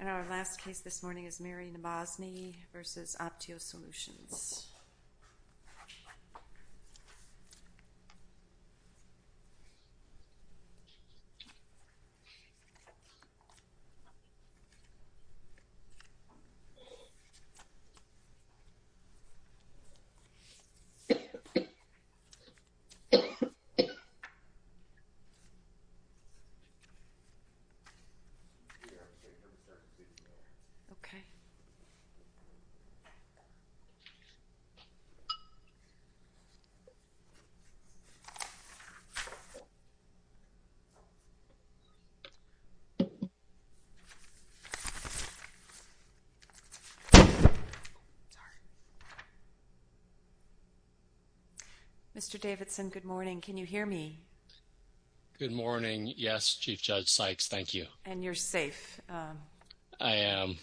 And our last case this morning is Mary Nabozny v. Optio Solutions. Okay. Mr. Davidson, good morning. Can you hear me? Good morning. Yes, Chief Judge Sykes. Thank you. And you're safe. I am.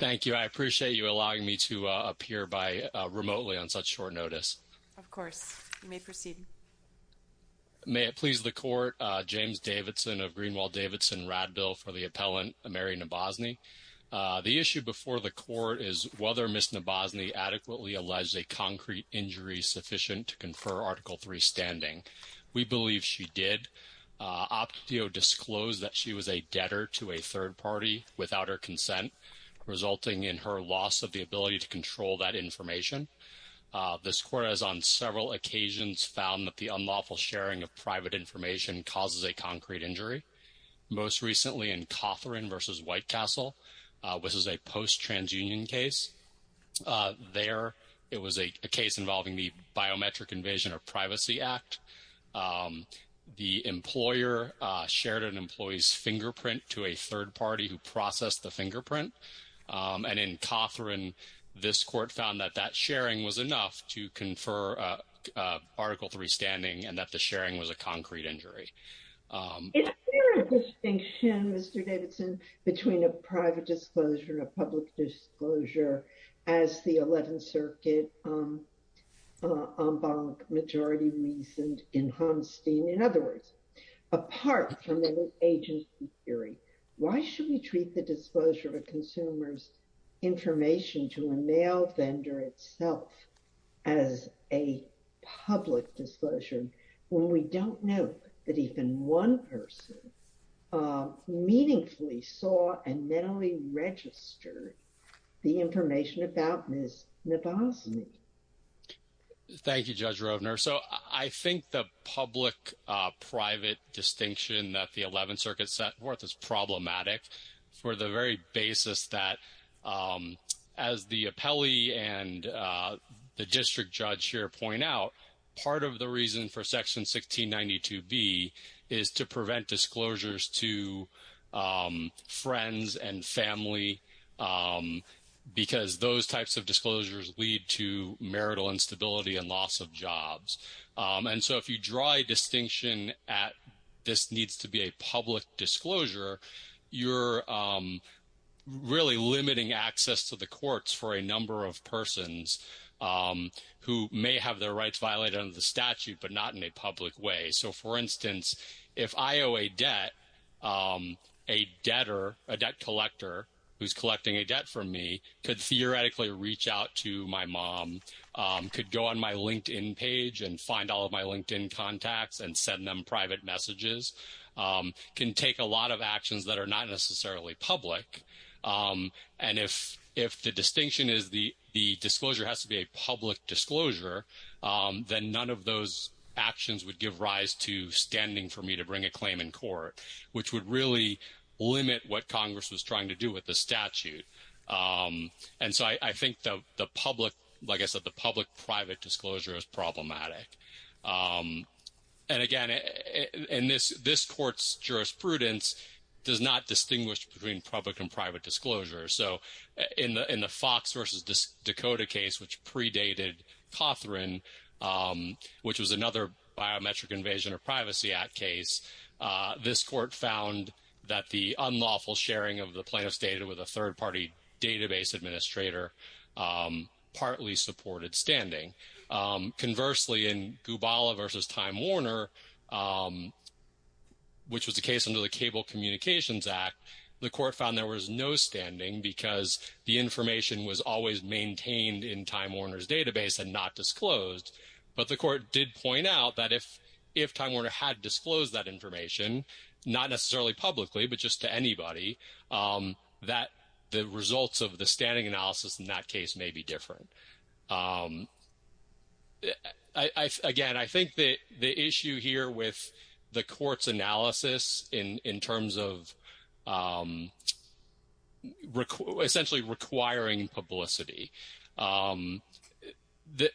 Thank you. I appreciate you allowing me to appear by remotely on such short notice. Of course. You may proceed. May it please the Court, James Davidson of Greenwald Davidson Radbill for the appellant Mary Nabozny. The issue before the Court is whether Ms. Nabozny adequately alleged a concrete injury sufficient to confer Article III standing. We believe she did. Optio disclosed that she was a debtor to a third party without her consent, resulting in her loss of the ability to control that information. This Court has on several occasions found that the unlawful sharing of private information causes a concrete injury. Most recently in Cothran v. Whitecastle, which is a post-transunion case. There, it was a case involving the Biometric Invasion of Privacy Act. The employer shared an employee's fingerprint to a third party who processed the fingerprint. And in Cothran, this Court found that that sharing was enough to confer Article III standing and that the sharing was a concrete injury. Is there a distinction, Mr. Davidson, between a private disclosure and a public disclosure as the 11th Circuit en banc majority reasoned in Homstein? In other words, apart from the agency theory, why should we treat the disclosure of a consumer's information to a mail vendor itself as a public disclosure when we don't know that even one person meaningfully saw and mentally registered the information about Ms. Novoselic? Thank you, Judge Roedner. So I think the public-private distinction that the 11th Circuit made, as the appellee and the district judge here point out, part of the reason for Section 1692B is to prevent disclosures to friends and family because those types of disclosures lead to marital instability and loss of jobs. And so if you draw a distinction at this needs to be public disclosure, you're really limiting access to the courts for a number of persons who may have their rights violated under the statute but not in a public way. So for instance, if I owe a debt, a debtor, a debt collector who's collecting a debt from me could theoretically reach out to my mom, could go on my LinkedIn page and find all of my LinkedIn contacts and send them can take a lot of actions that are not necessarily public. And if the distinction is the disclosure has to be a public disclosure, then none of those actions would give rise to standing for me to bring a claim in court, which would really limit what Congress was trying to do with the statute. And so I think the public, like I said, the public-private disclosure is problematic. And again, in this court's jurisprudence does not distinguish between public and private disclosure. So in the Fox versus Dakota case, which predated Cothran, which was another biometric invasion of privacy act case, this court found that the unlawful sharing of the plaintiff's data with a third-party database administrator partly supported standing. Conversely, in Gubala versus Time Warner, which was the case under the Cable Communications Act, the court found there was no standing because the information was always maintained in Time Warner's database and not disclosed. But the court did point out that if Time Warner had disclosed that information, not necessarily publicly, but just to anybody, that the results of the standing analysis in that case may be different. Again, I think that the issue here with the court's analysis in terms of essentially requiring publicity,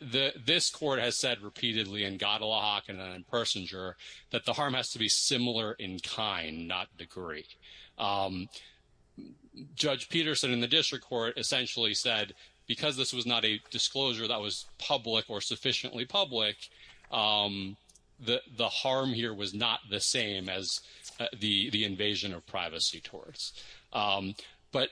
this court has said repeatedly in Godelak and in Persinger that the harm has to be similar in kind, not degree. Judge Peterson in the district court essentially said because this was not a disclosure that was public or sufficiently public, the harm here was not the same as the invasion of privacy towards. But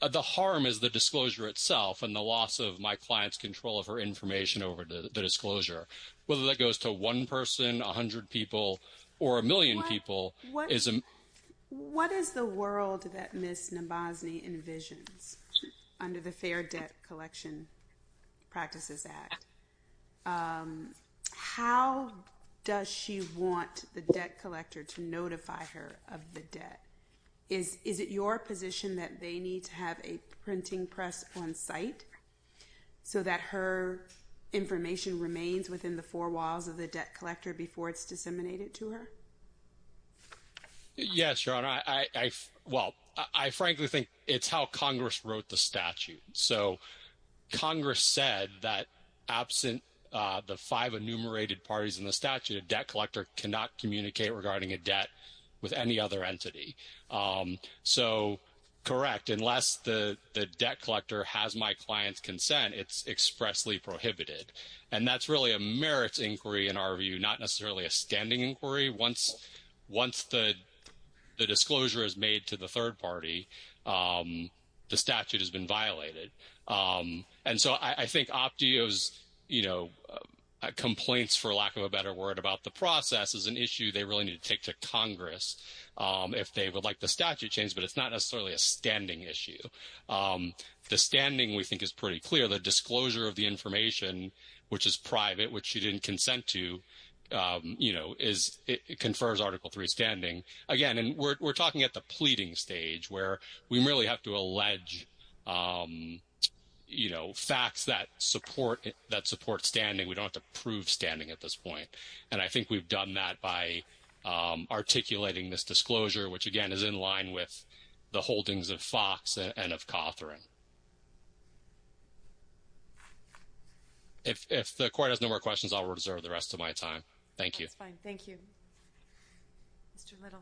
the harm is the disclosure itself and the loss of my client's control of her information over the disclosure, whether that goes to one person, a hundred people, or a million people. What is the world that Ms. Nabozny envisions under the Fair Debt Collection Practices Act? How does she want the debt collector to notify her of the debt? Is it your position that they need to have a printing press on site so that her information remains within the four walls of the debt collector before it's disseminated to her? Yes, Your Honor. Well, I frankly think it's how Congress wrote the statute. So Congress said that absent the five enumerated parties in the statute, a debt collector cannot communicate regarding a debt with any other entity. So correct, unless the debt collector has my client's consent, it's expressly prohibited. And that's really a merits inquiry in our view, not necessarily a standing inquiry. Once the disclosure is made to the third party, the statute has been violated. And so I think Optio's complaints, for lack of a better word, about the process is an issue they really need to take to Congress if they would like the statute changed. But it's not necessarily a standing issue. The standing, we think, is pretty clear. The disclosure of the information, which is private, which she didn't consent to, you know, confers Article III standing. Again, and we're talking at the pleading stage where we really have to allege, you know, facts that support standing. We don't have to prove standing at this point. And I think we've done that by articulating this disclosure, which, again, is in line with the holdings of Fox and of Cawthorne. If the court has no more questions, I'll reserve the rest of my time. Thank you. That's fine. Thank you. Mr. Little.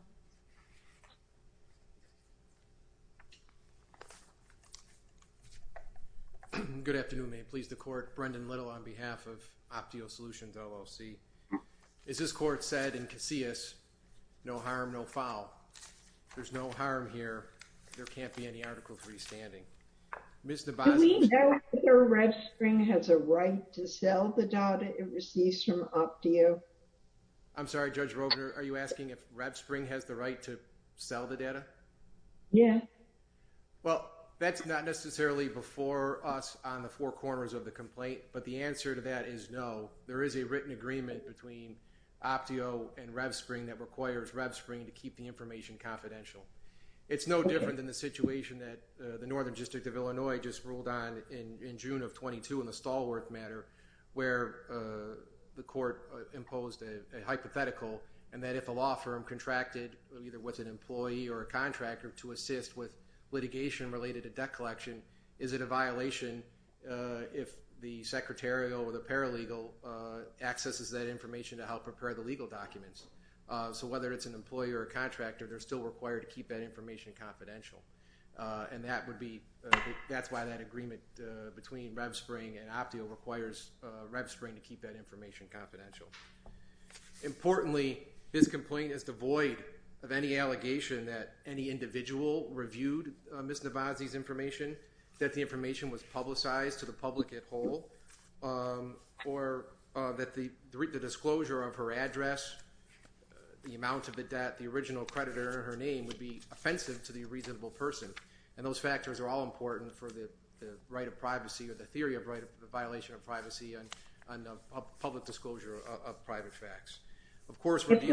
Good afternoon. May it please the court. Brendan Little on behalf of Optio Solutions, LLC. As this court said in Casillas, no harm, no foul. There's no harm here. There can't be any Article III standing. Ms. Dabazi. Do we know if Red Spring has a right to sell the data it receives from Optio? I'm sorry, Judge Rogner, are you asking if Red Spring has the right to sell the data? Yes. Well, that's not necessarily before us on the four corners of the complaint, but the answer to that is no. There is a written agreement between Optio and Red Spring that requires Red Spring to keep the information confidential. It's no different than the situation that the Northern District of Illinois just ruled on in June of 22 in the Stalwart matter where the court imposed a hypothetical and that if a law firm contracted either with an employee or a contractor to assist with litigation related to debt collection, is it a violation if the secretarial or the paralegal accesses that information to help prepare the legal documents. So whether it's an employer or contractor, they're still required to keep that information confidential. And that would be, that's why that agreement between Red Spring and Optio requires Red Spring to keep that information confidential. Importantly, this complaint is devoid of any at all, or that the disclosure of her address, the amount of the debt, the original creditor, her name would be offensive to the reasonable person. And those factors are all important for the right of privacy or the theory of right of the violation of privacy and on the public disclosure of private facts. If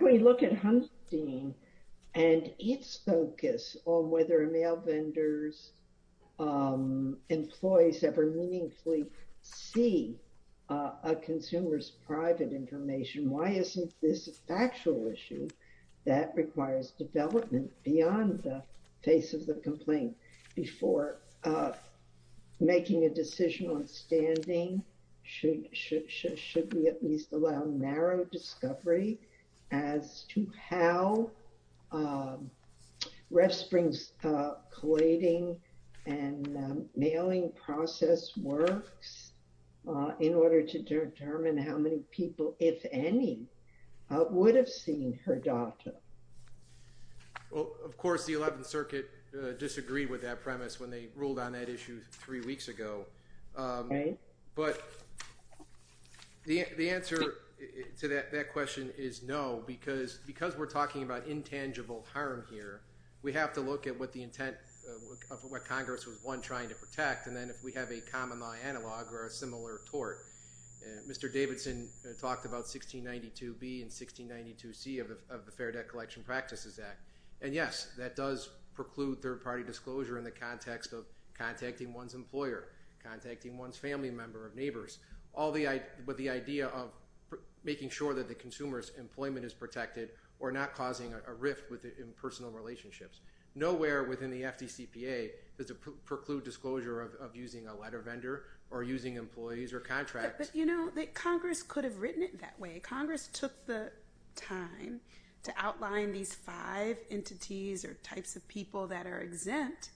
we look at Hunstein and its focus on whether mail vendors, employees ever meaningfully see a consumer's private information, why isn't this a factual issue that requires development beyond the face of the complaint before making a decision on standing? Should we at least allow narrow discovery as to how Red Spring's collating and mailing process works in order to determine how many people, if any, would have seen her data? Well, of course, the 11th Circuit disagreed with that premise when they ruled on that issue three weeks ago. But the answer to that question is no, because we're talking about intangible harm here, we have to look at what the intent of what Congress was, one, trying to protect, and then if we have a common-law analog or a similar tort. Mr. Davidson talked about 1692B and 1692C of the Fair Debt Collection Practices Act. And yes, that does preclude third-party disclosure in the context of contacting one's employer, contacting one's family member or neighbors, but the idea of making sure that the consumer's employment is protected or not causing a rift in personal relationships. Nowhere within the FDCPA does it preclude disclosure of using a letter vendor or using employees or contracts. But, you know, Congress could have written it that way. Congress took the time to outline these five entities or types of people that are exempt,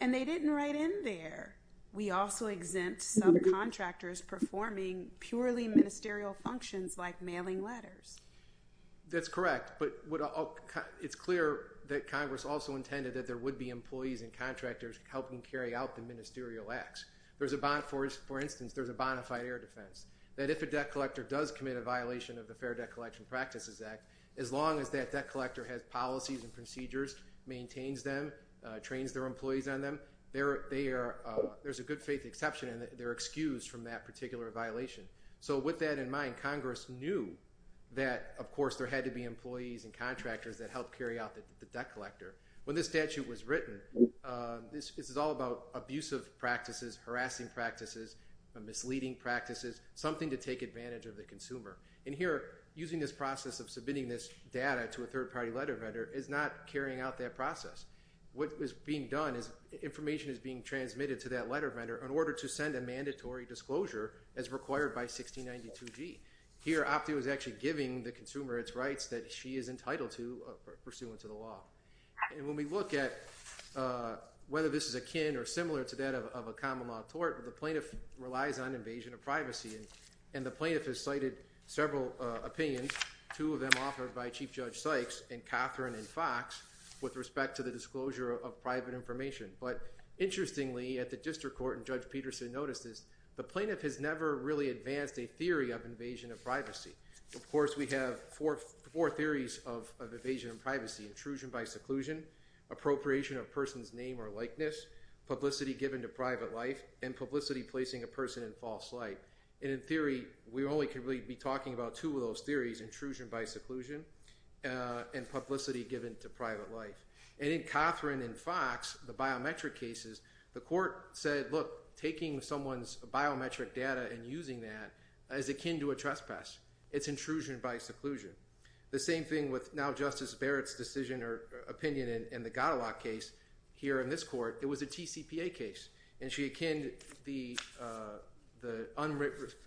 and they didn't write in there, we also exempt subcontractors performing purely ministerial functions like mailing letters. That's correct, but it's clear that Congress also intended that there would be employees and contractors helping carry out the ministerial acts. For instance, there's a bona fide air defense that if a debt collector does commit a violation of the Fair Debt Collection Practices Act, as long as that debt collector has policies and procedures, maintains them, trains their employees on them, there's a good faith exception and they're excused from that particular violation. So with that in mind, Congress knew that, of course, there had to be employees and contractors that helped carry out the debt collector. When this statute was written, this is all about abusive practices, harassing practices, misleading practices, something to take advantage of the consumer. And here, using this process of submitting this data to a third party letter vendor is not carrying out that process. What is being done is information is being transmitted to that letter vendor in order to send a mandatory disclosure as required by 1692G. Here, Optie was actually giving the consumer its rights that she is entitled to pursuant to the law. And when we look at whether this is akin or similar to that of a common law tort, the plaintiff relies on invasion of privacy. And the plaintiff has cited several opinions, two of them authored by Chief Judge Sykes and Catherine and Fox with respect to the disclosure of private information. But interestingly, at the district court, and Judge Peterson noticed this, the plaintiff has never really advanced a theory of invasion of privacy. Of course, we have four theories of evasion of privacy, intrusion by seclusion, publicity given to private life, and publicity placing a person in false light. And in theory, we only can really be talking about two of those theories, intrusion by seclusion and publicity given to private life. And in Catherine and Fox, the biometric cases, the court said, look, taking someone's biometric data and using that is akin to a trespass. It's intrusion by seclusion. The same thing with now Justice Barrett's decision or opinion in the DCPA case. And she akined the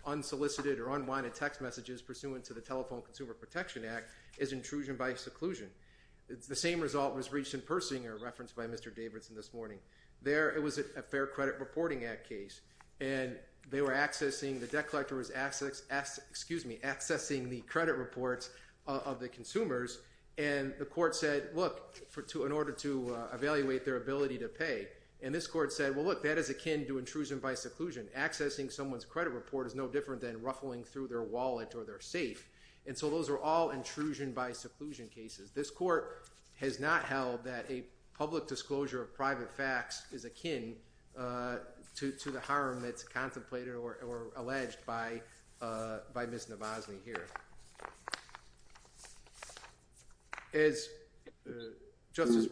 unsolicited or unwanted text messages pursuant to the Telephone Consumer Protection Act as intrusion by seclusion. The same result was reached in Persinger referenced by Mr. Davidson this morning. There, it was a Fair Credit Reporting Act case. And they were accessing, the debt collector was accessing the credit reports of the consumers, and the court said, look, in order to evaluate their ability to pay. And this court said, well, look, that is akin to intrusion by seclusion. Accessing someone's credit report is no different than ruffling through their wallet or their safe. And so those are all intrusion by seclusion cases. This court has not held that a public disclosure of private facts is akin to the harm that's contemplated or the harm that's contemplated. As Judge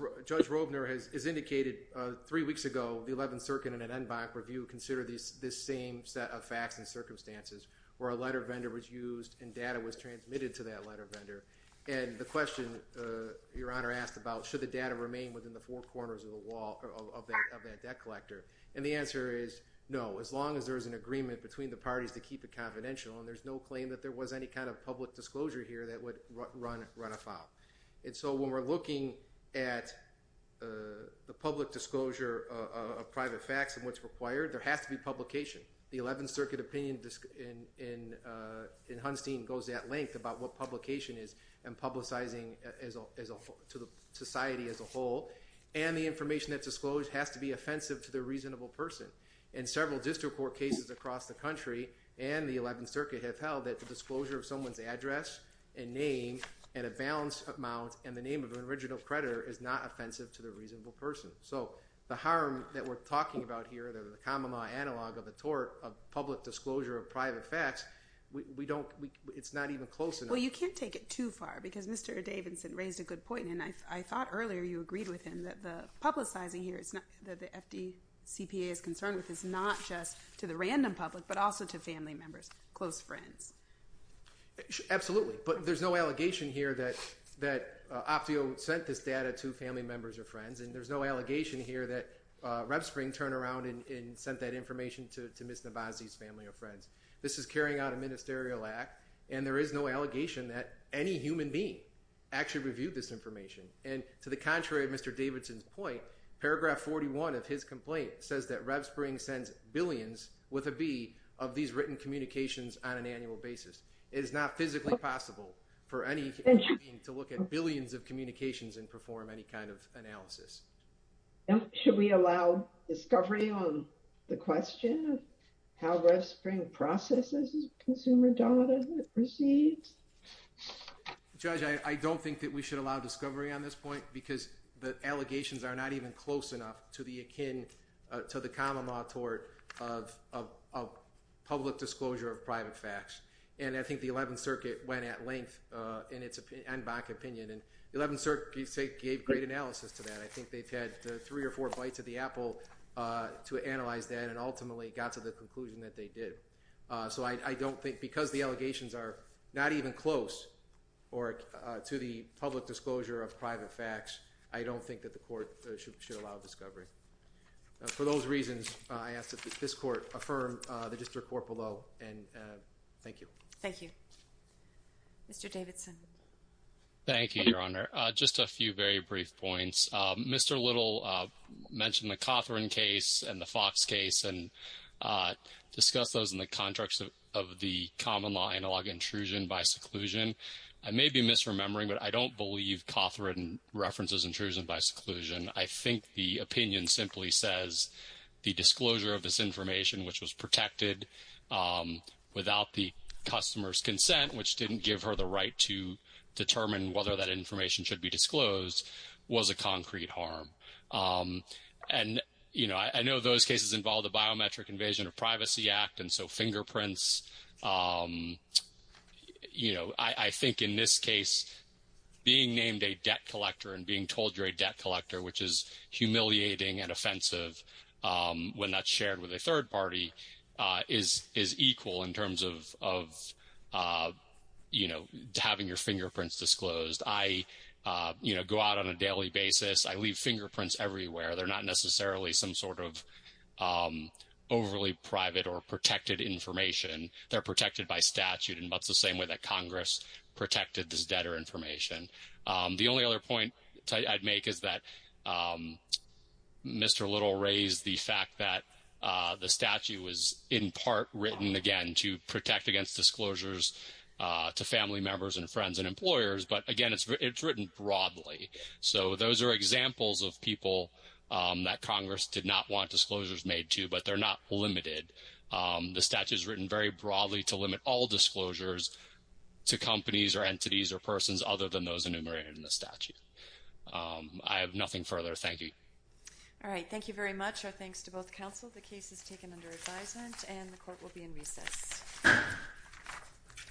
Robner has indicated, three weeks ago, the 11th Circuit and an en banc review considered this same set of facts and circumstances where a letter vendor was used and data was transmitted to that letter vendor. And the question Your Honor asked about, should the data remain within the four corners of the wall of that debt collector? And the answer is no, as long as there is an agreement between the parties to keep it confidential. And there's no claim that there was any kind of public disclosure here that would run afoul. And so when we're looking at the public disclosure of private facts and what's required, there has to be publication. The 11th Circuit opinion in Hunstein goes at length about what publication is and publicizing to the society as a whole. And the information that's disclosed has to be offensive to the reasonable person. And several district court cases across the country and the disclosure of someone's address and name and a balance amount and the name of an original creditor is not offensive to the reasonable person. So the harm that we're talking about here, the common law analog of the tort of public disclosure of private facts, it's not even close. Well, you can't take it too far because Mr. Davidson raised a good point. And I thought earlier you agreed with him that the publicizing here that the FDCPA is concerned with is not just to the random public but also to family members, close friends. Absolutely. But there's no allegation here that Optio sent this data to family members or friends and there's no allegation here that Revspring turned around and sent that information to Ms. Navazzi's family or friends. This is carrying out a ministerial act and there is no allegation that any human being actually reviewed this information. And to the contrary of Mr. Davidson's point, paragraph 41 of his complaint says that Revspring sends billions with a B of these written communications on an annual basis. It is not physically possible for any human being to look at billions of communications and perform any kind of analysis. Should we allow discovery on the question of how Revspring processes consumer data that proceeds? Judge, I don't think that we should allow discovery on this point because the allegations are not even close enough to the common law tort of public disclosure of private facts. And I think the 11th Circuit went at length in its opinion and BAC opinion. And the 11th Circuit gave great analysis to that. I think they've had three or four bites of the apple to analyze that and ultimately got to the conclusion that they did. So I don't think because the allegations are not even close to the public disclosure of private facts, I don't think that the court should allow discovery. For those reasons, I ask that this court affirm the district court below and thank you. Thank you. Mr. Davidson. Thank you, Your Honor. Just a few very brief points. Mr. Little mentioned the Cothran case and the Fox case and discussed those in the context of the common law analog intrusion by seclusion. I may be misremembering, but I don't believe Cothran references intrusion by seclusion. I think the opinion simply says the disclosure of this information, which was protected without the customer's consent, which didn't give her the right to determine whether that information should be disclosed, was a concrete harm. And, you know, I know those cases involve biometric invasion of privacy act, and so fingerprints, you know, I think in this case, being named a debt collector and being told you're a debt collector, which is humiliating and offensive when that's shared with a third party, is equal in terms of, you know, having your fingerprints disclosed. I, you know, go out on a daily basis. I leave fingerprints everywhere. They're not necessarily some sort of overly private or protected information. They're protected by statute, and that's the same way that Congress protected this debtor information. The only other point I'd make is that Mr. Little raised the fact that the statute was in part written, again, to protect against disclosures to family members and friends and employers, but again, it's written broadly. So those are examples of people that Congress did not want disclosures made to, but they're not limited. The statute is written very broadly to limit all disclosures to companies or entities or persons other than those enumerated in the statute. I have nothing further. Thank you. All right. Thank you very much. Our thanks to both counsel. The case is taken under advisement, and the court will be in recess.